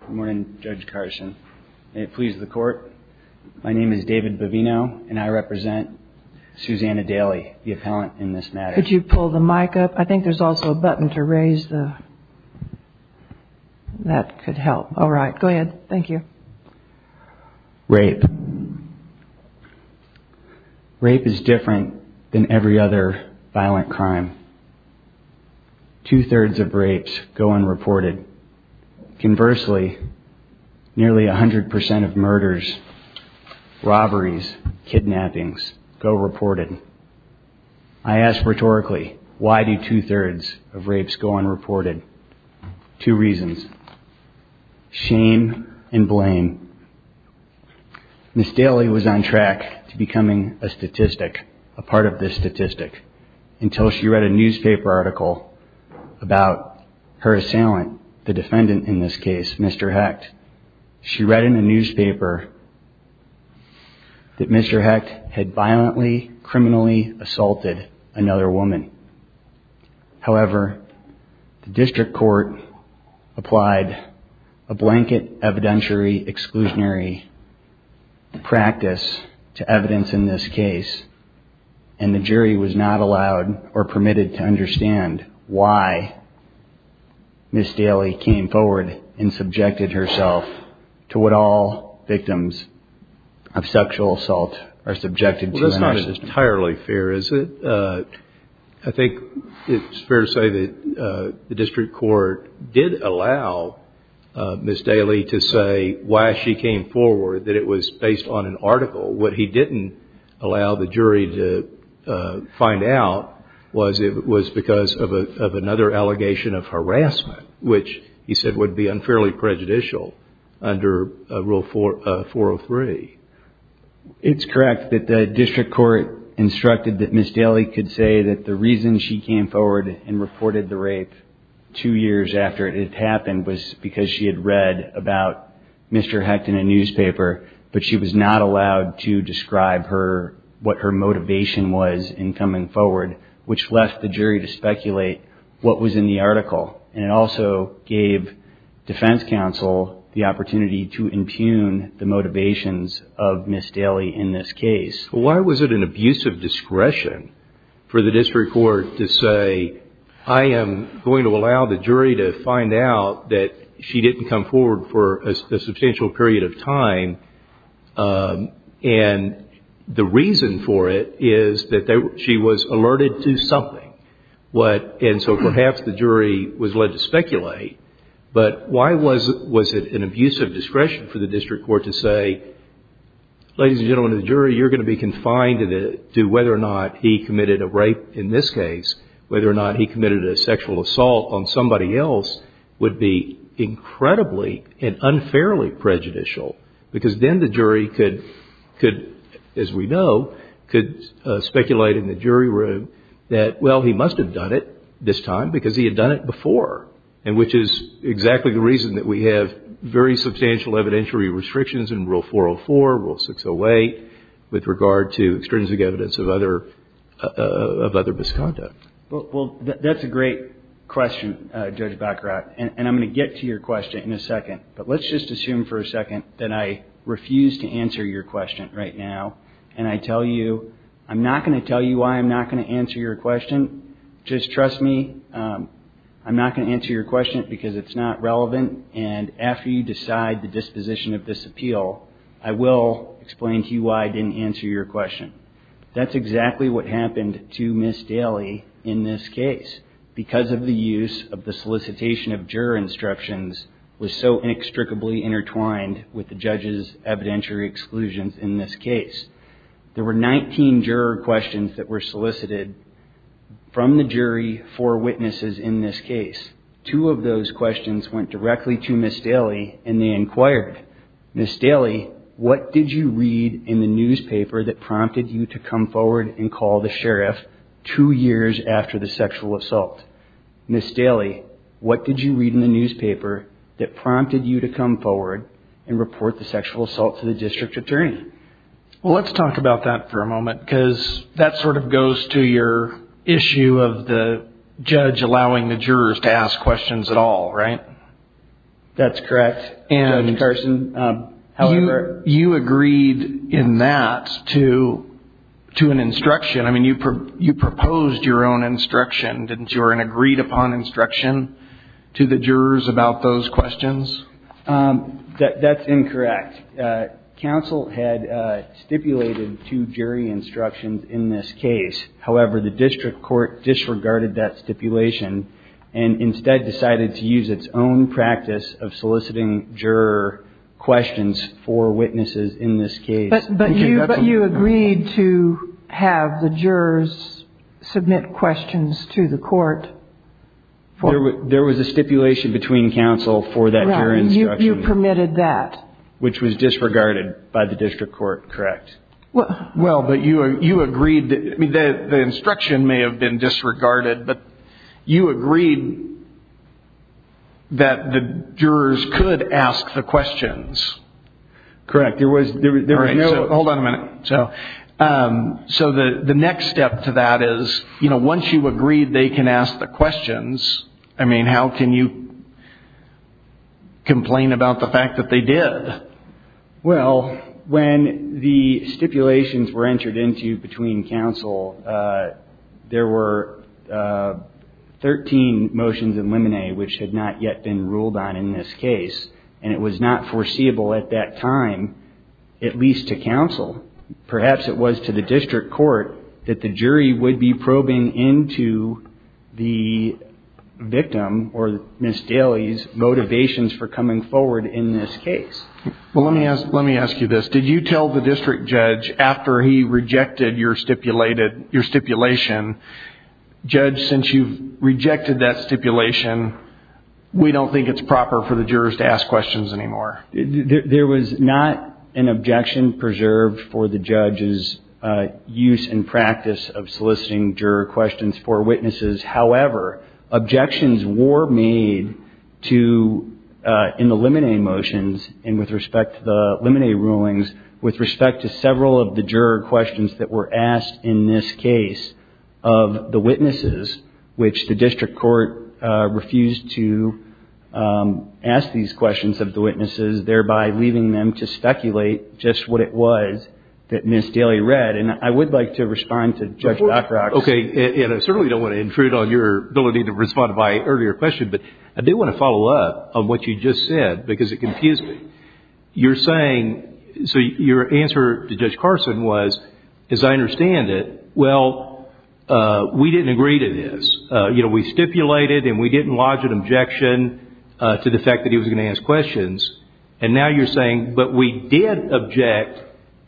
Good morning, Judge Carson. May it please the court, my name is David Bovino and I represent Susanna Dailey, the appellant in this matter. Could you pull the mic up? I think there's also a button to raise that could help. Alright, go ahead. Thank you. Rape. Rape is different than every other violent crime. Two-thirds of rapes go unreported. Conversely, nearly 100% of murders, robberies, kidnappings go reported. I ask rhetorically, why do two-thirds of rapes go unreported? Two reasons. Shame and blame. Ms. Dailey was on track to becoming a statistic, a part of this statistic, until she read a newspaper article about her assailant, the defendant in this case, Mr. Hecht. She read in the newspaper that Mr. Hecht had violently, criminally assaulted another woman. However, the district court applied a blanket evidentiary exclusionary practice to evidence in this case. And the jury was not allowed or permitted to understand why Ms. Dailey came forward and subjected herself to what all victims of sexual assault are subjected to. That's not entirely fair, is it? I think it's fair to say that the district court did allow Ms. Dailey to say why she came forward, that it was based on an article. What he didn't allow the jury to find out was it was because of another allegation of harassment, which he said would be unfairly prejudicial under Rule 403. It's correct that the district court instructed that Ms. Dailey could say that the reason she came forward and reported the rape two years after it had happened was because she had read about Mr. Hecht in a newspaper, but she was not allowed to describe what her motivation was in coming forward, which left the jury to speculate what was in the article. And it also gave defense counsel the opportunity to impugn the motivations of Ms. Dailey in this case. Why was it an abusive discretion for the district court to say, I am going to allow the jury to find out that she didn't come forward for a substantial period of time? And the reason for it is that she was alerted to something. And so perhaps the jury was led to speculate, but why was it an abusive discretion for the district court to say, ladies and gentlemen of the jury, you're going to be confined to whether or not he committed a rape in this case, whether or not he committed a sexual assault on somebody else, would be incredibly and unfairly prejudicial. Because then the jury could, as we know, could speculate in the jury room that, well, he must have done it this time because he had done it before. And which is exactly the reason that we have very substantial evidentiary restrictions in Rule 404, Rule 608, with regard to extrinsic evidence of other misconduct. Well, that's a great question, Judge Baccarat, and I'm going to get to your question in a second. But let's just assume for a second that I refuse to answer your question right now. And I tell you, I'm not going to tell you why I'm not going to answer your question. Just trust me, I'm not going to answer your question because it's not relevant. And after you decide the disposition of this appeal, I will explain to you why I didn't answer your question. That's exactly what happened to Ms. Daly in this case because of the use of the solicitation of juror instructions was so inextricably intertwined with the judge's evidentiary exclusions in this case. There were 19 juror questions that were solicited from the jury for witnesses in this case. Two of those questions went directly to Ms. Daly and they inquired, Ms. Daly, what did you read in the newspaper that prompted you to come forward and call the sheriff two years after the sexual assault? Ms. Daly, what did you read in the newspaper that prompted you to come forward and report the sexual assault to the district attorney? Well, let's talk about that for a moment because that sort of goes to your issue of the judge allowing the jurors to ask questions at all, right? That's correct, Judge Carson. You agreed in that to an instruction. I mean, you proposed your own instruction, didn't you, or an agreed-upon instruction to the jurors about those questions? That's incorrect. Counsel had stipulated two jury instructions in this case. However, the district court disregarded that stipulation and instead decided to use its own practice of soliciting juror questions for witnesses in this case. But you agreed to have the jurors submit questions to the court? There was a stipulation between counsel for that jury instruction. You permitted that. Which was disregarded by the district court, correct. Well, but you agreed that the instruction may have been disregarded, but you agreed that the jurors could ask the questions. Correct. Hold on a minute. So the next step to that is, you know, once you agreed they can ask the questions, I mean, how can you complain about the fact that they did? Well, when the stipulations were entered into between counsel, there were 13 motions in limine which had not yet been ruled on in this case, and it was not foreseeable at that time, at least to counsel. Perhaps it was to the district court that the jury would be probing into the victim or Ms. Daly's motivations for coming forward in this case. Well, let me ask you this. Did you tell the district judge after he rejected your stipulation, Judge, since you've rejected that stipulation, we don't think it's proper for the jurors to ask questions anymore? There was not an objection preserved for the judge's use and practice of soliciting juror questions for witnesses. However, objections were made to, in the limine motions, and with respect to the limine rulings, with respect to several of the juror questions that were asked in this case of the witnesses, which the district court refused to ask these questions of the witnesses, thereby leaving them to speculate just what it was that Ms. Daly read. And I would like to respond to Judge Dockrocks. Okay. And I certainly don't want to intrude on your ability to respond to my earlier question, but I do want to follow up on what you just said because it confused me. You're saying, so your answer to Judge Carson was, as I understand it, well, we didn't agree to this. You know, we stipulated and we didn't lodge an objection to the fact that he was going to ask questions. And now you're saying, but we did object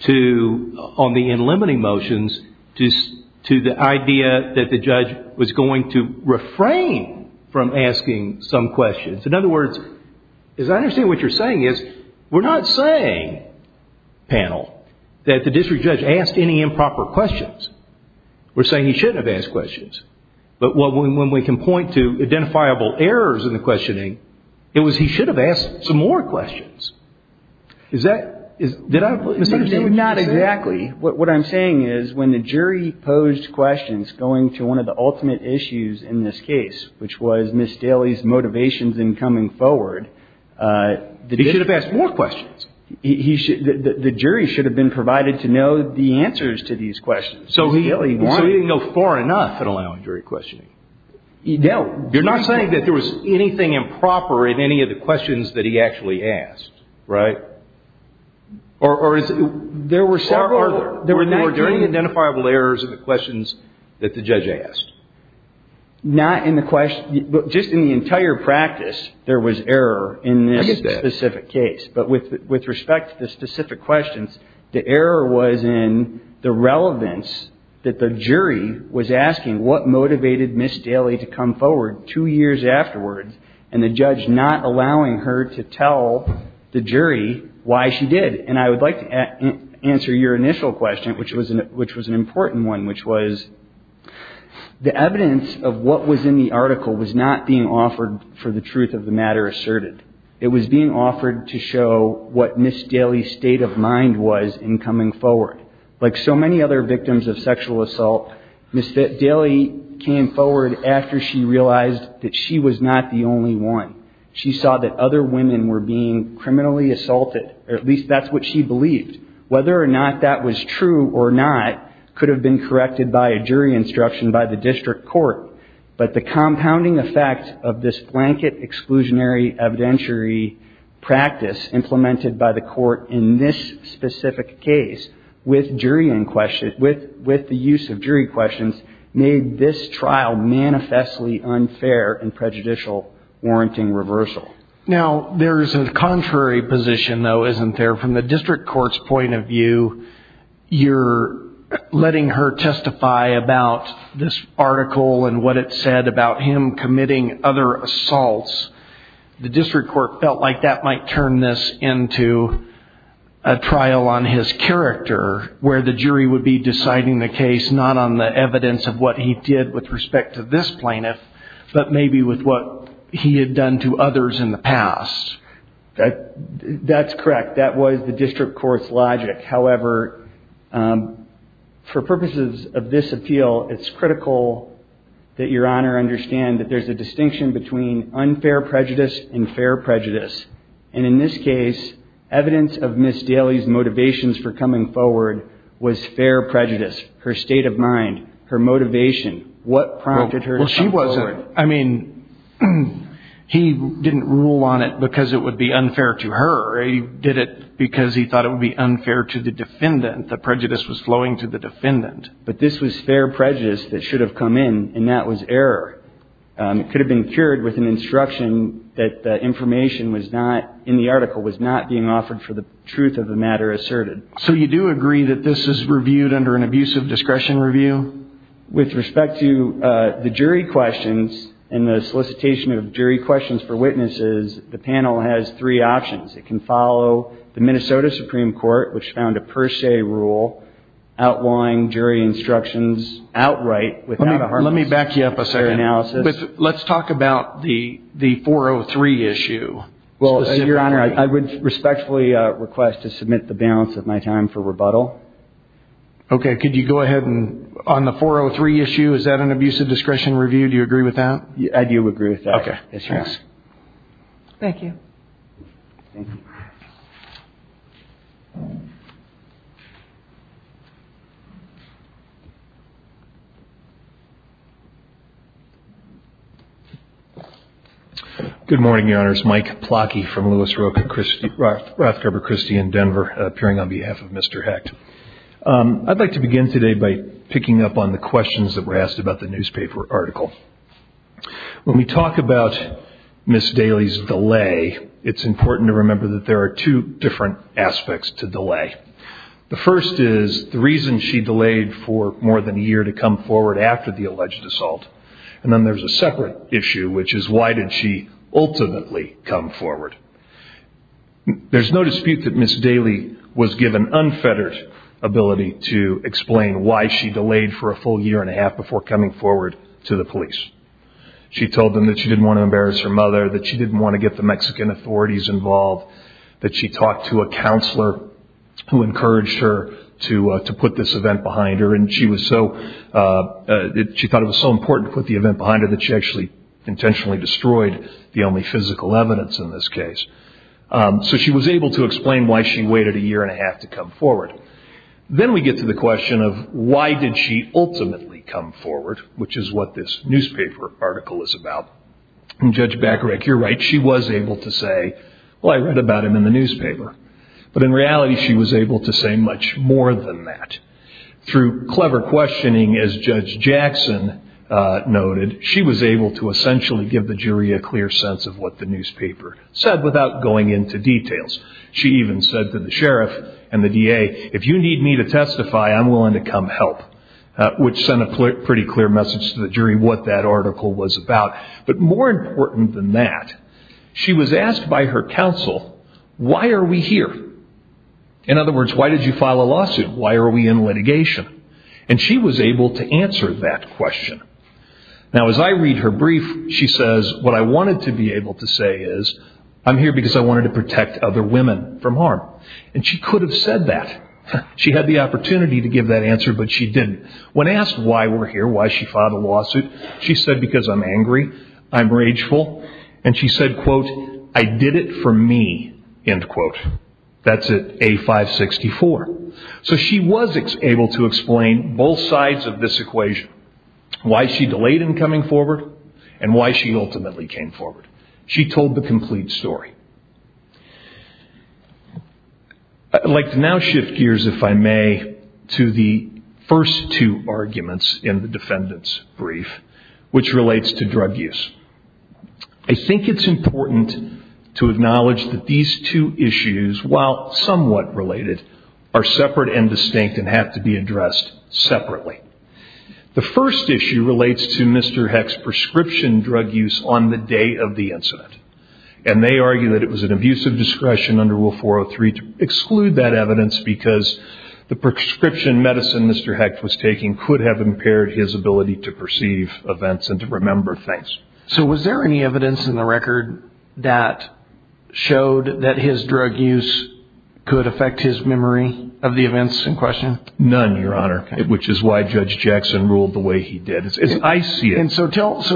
to, on the in limine motions, to the idea that the judge was going to refrain from asking some questions. In other words, as I understand what you're saying is, we're not saying, panel, that the district judge asked any improper questions. We're saying he shouldn't have asked questions. But when we can point to identifiable errors in the questioning, it was he should have asked some more questions. Is that, did I misunderstand? Not exactly. What I'm saying is when the jury posed questions going to one of the ultimate issues in this case, which was Ms. Daly's motivations in coming forward. He should have asked more questions. The jury should have been provided to know the answers to these questions. So he didn't go far enough in allowing jury questioning. No. You're not saying that there was anything improper in any of the questions that he actually asked, right? Or is it? There were several. Or are there any identifiable errors in the questions that the judge asked? Not in the question. Just in the entire practice, there was error in this specific case. But with respect to the specific questions, the error was in the relevance that the jury was asking what motivated Ms. Daly to come forward two years afterwards, and the judge not allowing her to tell the jury why she did. And I would like to answer your initial question, which was an important one, which was the evidence of what was in the article was not being offered for the truth of the matter asserted. It was being offered to show what Ms. Daly's state of mind was in coming forward. Like so many other victims of sexual assault, Ms. Daly came forward after she realized that she was not the only one. She saw that other women were being criminally assaulted, or at least that's what she believed. Whether or not that was true or not could have been corrected by a jury instruction by the district court. But the compounding effect of this blanket exclusionary evidentiary practice implemented by the court in this specific case, with the use of jury questions, made this trial manifestly unfair and prejudicial, warranting reversal. Now, there is a contrary position, though, isn't there? From the district court's point of view, you're letting her testify about this article and what it said about him committing other assaults. The district court felt like that might turn this into a trial on his character, where the jury would be deciding the case not on the evidence of what he did with respect to this plaintiff, but maybe with what he had done to others in the past. That's correct. That was the district court's logic. However, for purposes of this appeal, it's critical that Your Honor understand that there's a distinction between unfair prejudice and fair prejudice. And in this case, evidence of Ms. Daly's motivations for coming forward was fair prejudice, her state of mind, her motivation. What prompted her to come forward? I mean, he didn't rule on it because it would be unfair to her. He did it because he thought it would be unfair to the defendant, that prejudice was flowing to the defendant. But this was fair prejudice that should have come in, and that was error. It could have been cured with an instruction that the information was not, in the article, was not being offered for the truth of the matter asserted. So you do agree that this is reviewed under an abusive discretion review? With respect to the jury questions and the solicitation of jury questions for witnesses, the panel has three options. It can follow the Minnesota Supreme Court, which found a per se rule outlawing jury instructions outright. Let me back you up a second. Let's talk about the 403 issue. Well, Your Honor, I would respectfully request to submit the balance of my time for rebuttal. Okay. Could you go ahead and, on the 403 issue, is that an abusive discretion review? Do you agree with that? I do agree with that. Okay. Thanks. Thank you. Good morning, Your Honors. My name is Mike Plocky from Rothcarber Christie in Denver, appearing on behalf of Mr. Hecht. I'd like to begin today by picking up on the questions that were asked about the newspaper article. When we talk about Ms. Daly's delay, it's important to remember that there are two different aspects to delay. The first is the reason she delayed for more than a year to come forward after the alleged assault. And then there's a separate issue, which is why did she ultimately come forward? There's no dispute that Ms. Daly was given unfettered ability to explain why she delayed for a full year and a half before coming forward to the police. She told them that she didn't want to embarrass her mother, that she didn't want to get the Mexican authorities involved, that she talked to a counselor who encouraged her to put this event behind her, and she thought it was so important to put the event behind her that she actually intentionally destroyed the only physical evidence in this case. So she was able to explain why she waited a year and a half to come forward. Then we get to the question of why did she ultimately come forward, which is what this newspaper article is about. And Judge Bacharach, you're right, she was able to say, well, I read about him in the newspaper. But in reality, she was able to say much more than that. Through clever questioning, as Judge Jackson noted, she was able to essentially give the jury a clear sense of what the newspaper said without going into details. She even said to the sheriff and the DA, if you need me to testify, I'm willing to come help, which sent a pretty clear message to the jury what that article was about. But more important than that, she was asked by her counsel, why are we here? In other words, why did you file a lawsuit? Why are we in litigation? And she was able to answer that question. Now, as I read her brief, she says, what I wanted to be able to say is, I'm here because I wanted to protect other women from harm. And she could have said that. She had the opportunity to give that answer, but she didn't. When asked why we're here, why she filed a lawsuit, she said, because I'm angry, I'm rageful. And she said, quote, I did it for me, end quote. That's at A564. So she was able to explain both sides of this equation, why she delayed in coming forward and why she ultimately came forward. She told the complete story. I'd like to now shift gears, if I may, to the first two arguments in the defendant's brief, which relates to drug use. I think it's important to acknowledge that these two issues, while somewhat related, are separate and distinct and have to be addressed separately. The first issue relates to Mr. Hecht's prescription drug use on the day of the incident. And they argue that it was an abuse of discretion under Rule 403 to exclude that evidence because the prescription medicine Mr. Hecht was taking could have impaired his ability to perceive events and to remember things. So was there any evidence in the record that showed that his drug use could affect his memory of the events in question? None, Your Honor, which is why Judge Jackson ruled the way he did. So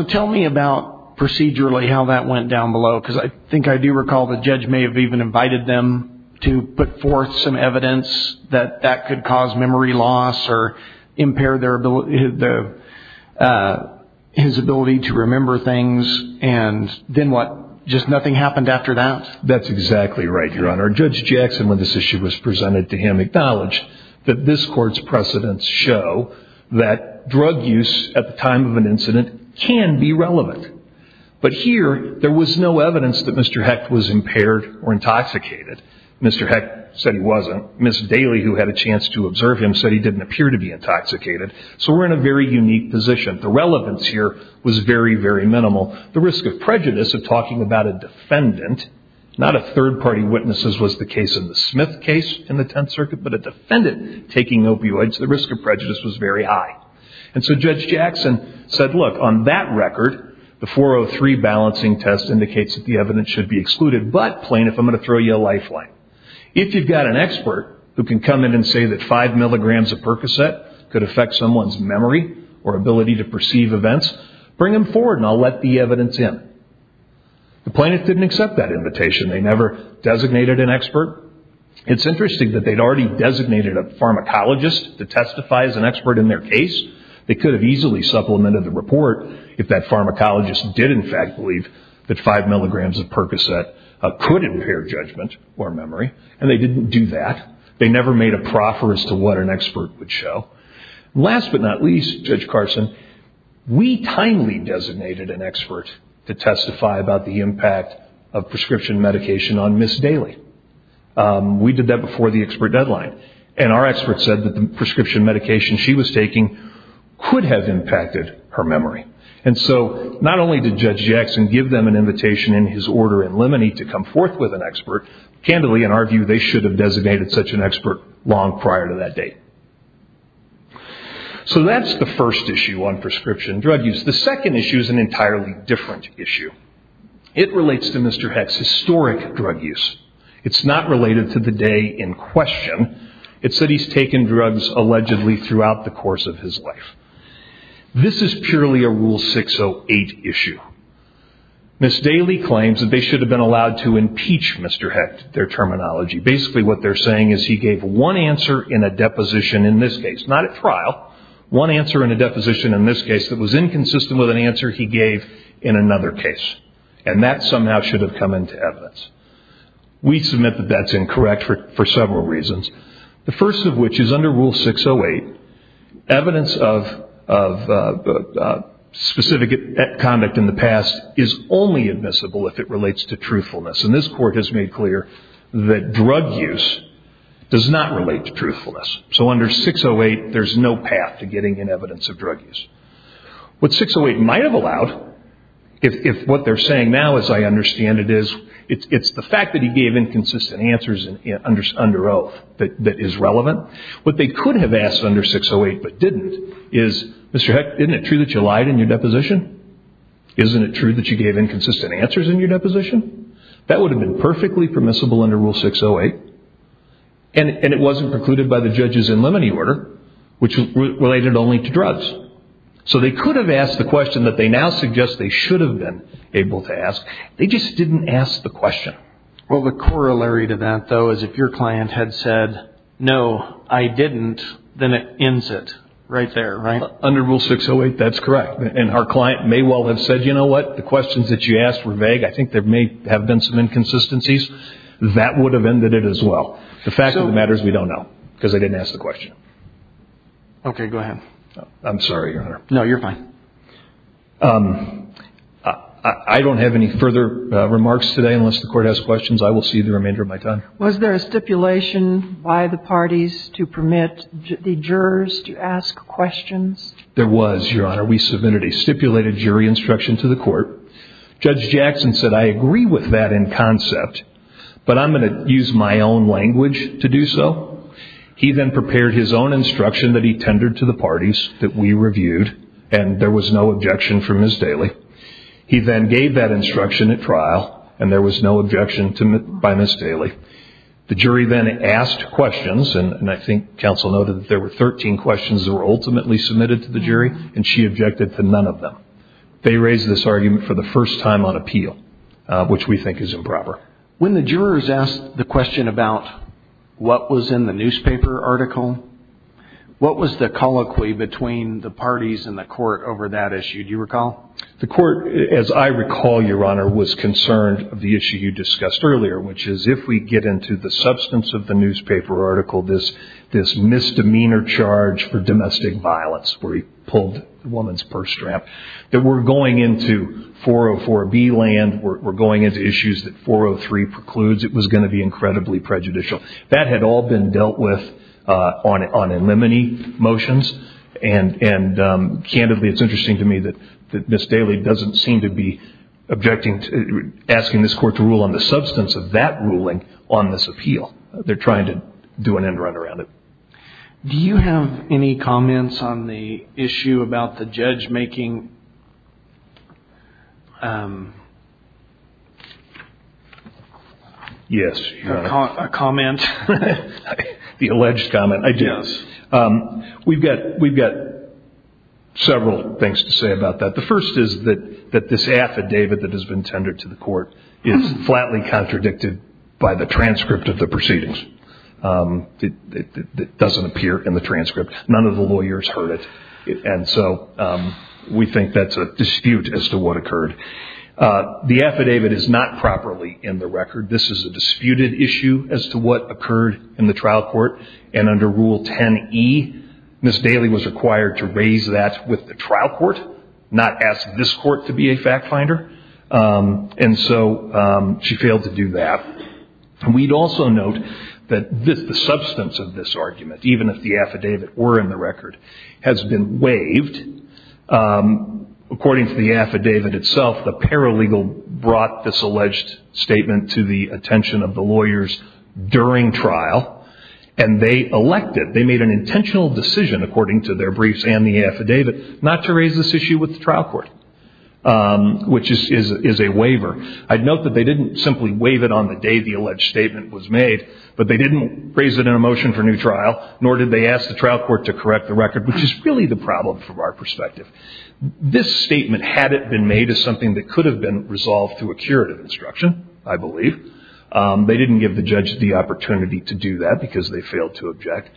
tell me about, procedurally, how that went down below. Because I think I do recall the judge may have even invited them to put forth some evidence that that could cause memory loss or impair his ability to remember things. And then what? Just nothing happened after that? That's exactly right, Your Honor. Judge Jackson, when this issue was presented to him, acknowledged that this court's precedents show that drug use at the time of an incident can be relevant. But here, there was no evidence that Mr. Hecht was impaired or intoxicated. Mr. Hecht said he wasn't. Ms. Daly, who had a chance to observe him, said he didn't appear to be intoxicated. So we're in a very unique position. The relevance here was very, very minimal. The risk of prejudice of talking about a defendant, not if third-party witnesses was the case in the Smith case in the Tenth Circuit, but a defendant taking opioids, the risk of prejudice was very high. And so Judge Jackson said, look, on that record, the 403 balancing test indicates that the evidence should be excluded. But, plaintiff, I'm going to throw you a lifeline. If you've got an expert who can come in and say that five milligrams of Percocet could affect someone's memory or ability to perceive events, bring him forward and I'll let the evidence in. The plaintiff didn't accept that invitation. They never designated an expert. It's interesting that they'd already designated a pharmacologist to testify as an expert in their case. They could have easily supplemented the report if that pharmacologist did, in fact, believe that five milligrams of Percocet could impair judgment or memory, and they didn't do that. They never made a proffer as to what an expert would show. Last but not least, Judge Carson, we timely designated an expert to testify about the impact of prescription medication on Ms. Daly. We did that before the expert deadline, and our expert said that the prescription medication she was taking could have impacted her memory. And so not only did Judge Jackson give them an invitation in his order in limine to come forth with an expert, candidly, in our view, they should have designated such an expert long prior to that date. So that's the first issue on prescription drug use. The second issue is an entirely different issue. It relates to Mr. Heck's historic drug use. It's not related to the day in question. It's that he's taken drugs allegedly throughout the course of his life. This is purely a Rule 608 issue. Ms. Daly claims that they should have been allowed to impeach Mr. Heck, their terminology. Basically what they're saying is he gave one answer in a deposition in this case, not at trial, one answer in a deposition in this case that was inconsistent with an answer he gave in another case. And that somehow should have come into evidence. We submit that that's incorrect for several reasons. The first of which is under Rule 608, evidence of specific conduct in the past is only admissible if it relates to truthfulness. And this Court has made clear that drug use does not relate to truthfulness. So under 608, there's no path to getting an evidence of drug use. What 608 might have allowed, if what they're saying now, as I understand it, is it's the fact that he gave inconsistent answers under oath that is relevant. What they could have asked under 608 but didn't is, Mr. Heck, isn't it true that you lied in your deposition? Isn't it true that you gave inconsistent answers in your deposition? That would have been perfectly permissible under Rule 608. And it wasn't precluded by the judges in limine order, which related only to drugs. So they could have asked the question that they now suggest they should have been able to ask. They just didn't ask the question. Well, the corollary to that, though, is if your client had said, no, I didn't, then it ends it right there, right? Under Rule 608, that's correct. And our client may well have said, you know what, the questions that you asked were vague. I think there may have been some inconsistencies. That would have ended it as well. The fact of the matter is we don't know because they didn't ask the question. Okay, go ahead. I'm sorry, Your Honor. No, you're fine. I don't have any further remarks today unless the Court has questions. I will see you the remainder of my time. Was there a stipulation by the parties to permit the jurors to ask questions? There was, Your Honor. We submitted a stipulated jury instruction to the Court. Judge Jackson said, I agree with that in concept, but I'm going to use my own language to do so. He then prepared his own instruction that he tendered to the parties that we reviewed, and there was no objection from Ms. Daly. He then gave that instruction at trial, and there was no objection by Ms. Daly. The jury then asked questions, and I think counsel noted that there were 13 questions that were ultimately submitted to the jury, and she objected to none of them. They raised this argument for the first time on appeal, which we think is improper. When the jurors asked the question about what was in the newspaper article, what was the colloquy between the parties and the Court over that issue? Do you recall? The Court, as I recall, Your Honor, was concerned of the issue you discussed earlier, which is if we get into the substance of the newspaper article, this misdemeanor charge for domestic violence where he pulled the woman's purse strap, that we're going into 404B land, we're going into issues that 403 precludes, it was going to be incredibly prejudicial. That had all been dealt with on in limine motions, and candidly it's interesting to me that Ms. Daly doesn't seem to be asking this Court to rule on the substance of that ruling on this appeal. They're trying to do an end-run around it. Do you have any comments on the issue about the judge making a comment? The alleged comment? Yes. We've got several things to say about that. The first is that this affidavit that has been tendered to the Court is flatly contradicted by the transcript of the proceedings. It doesn't appear in the transcript. None of the lawyers heard it, and so we think that's a dispute as to what occurred. The affidavit is not properly in the record. This is a disputed issue as to what occurred in the trial court, and under Rule 10E, Ms. Daly was required to raise that with the trial court, not ask this Court to be a fact finder, and so she failed to do that. We'd also note that the substance of this argument, even if the affidavit were in the record, has been waived. According to the affidavit itself, the paralegal brought this alleged statement to the attention of the lawyers during trial, and they elected, they made an intentional decision according to their briefs and the affidavit, not to raise this issue with the trial court, which is a waiver. I'd note that they didn't simply waive it on the day the alleged statement was made, but they didn't raise it in a motion for new trial, nor did they ask the trial court to correct the record, which is really the problem from our perspective. This statement, had it been made, is something that could have been resolved through a curative instruction, I believe. They didn't give the judge the opportunity to do that because they failed to object.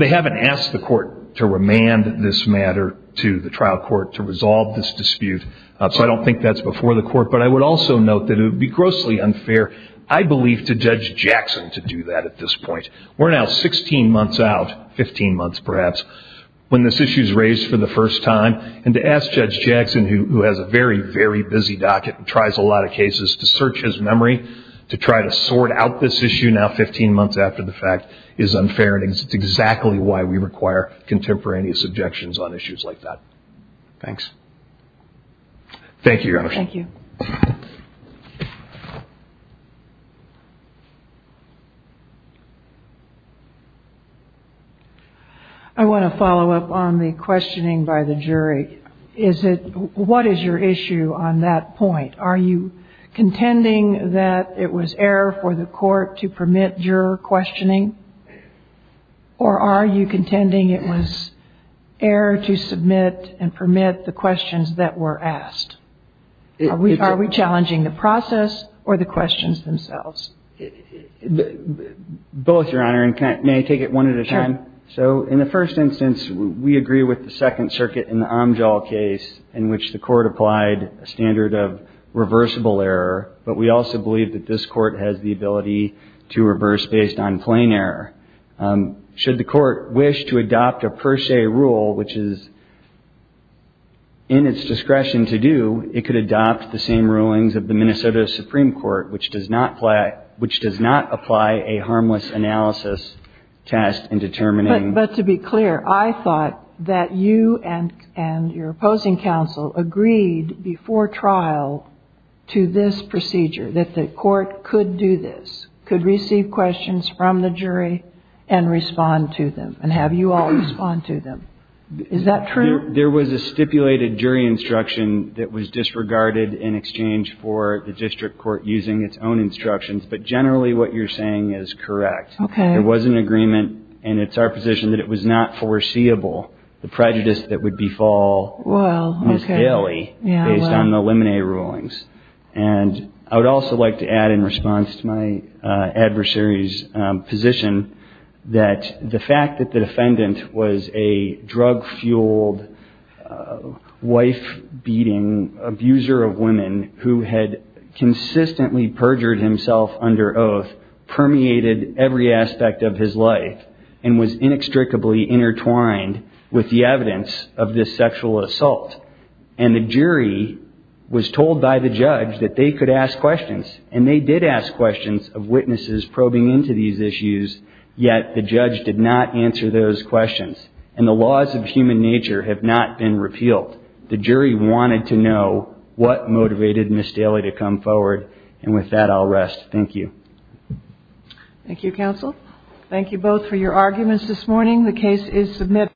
They haven't asked the Court to remand this matter to the trial court to resolve this dispute, so I don't think that's before the Court, but I would also note that it would be grossly unfair, I believe, to Judge Jackson to do that at this point. We're now 16 months out, 15 months perhaps, when this issue is raised for the first time, and to ask Judge Jackson, who has a very, very busy docket and tries a lot of cases, to search his memory, to try to sort out this issue now 15 months after the fact is unfair, and it's exactly why we require contemporaneous objections on issues like that. Thanks. Thank you, Your Honor. Thank you. I want to follow up on the questioning by the jury. What is your issue on that point? Are you contending that it was error for the Court to permit juror questioning, or are you contending it was error to submit and permit the questions that were asked? Are we challenging the process or the questions themselves? Both, Your Honor, and may I take it one at a time? Sure. So in the first instance, we agree with the Second Circuit in the Omjal case in which the Court applied a standard of reversible error, but we also believe that this Court has the ability to reverse based on plain error. Should the Court wish to adopt a per se rule, which is in its discretion to do, it could adopt the same rulings of the Minnesota Supreme Court, which does not apply a harmless analysis test in determining. But to be clear, I thought that you and your opposing counsel agreed before trial to this procedure, that the Court could do this, could receive questions from the jury and respond to them and have you all respond to them. Is that true? There was a stipulated jury instruction that was disregarded in exchange for the district court using its own instructions, but generally what you're saying is correct. Okay. There was an agreement, and it's our position that it was not foreseeable, the prejudice that would befall Ms. Haley based on the lemonade rulings. And I would also like to add in response to my adversary's position that the fact that the defendant was a drug-fueled, wife-beating abuser of women who had consistently perjured himself under oath permeated every aspect of his life and was inextricably intertwined with the evidence of this sexual assault. And the jury was told by the judge that they could ask questions, and they did ask questions of witnesses probing into these issues, yet the judge did not answer those questions. And the laws of human nature have not been repealed. The jury wanted to know what motivated Ms. Haley to come forward. And with that, I'll rest. Thank you. Thank you, counsel. Thank you both for your arguments this morning. The case is submitted.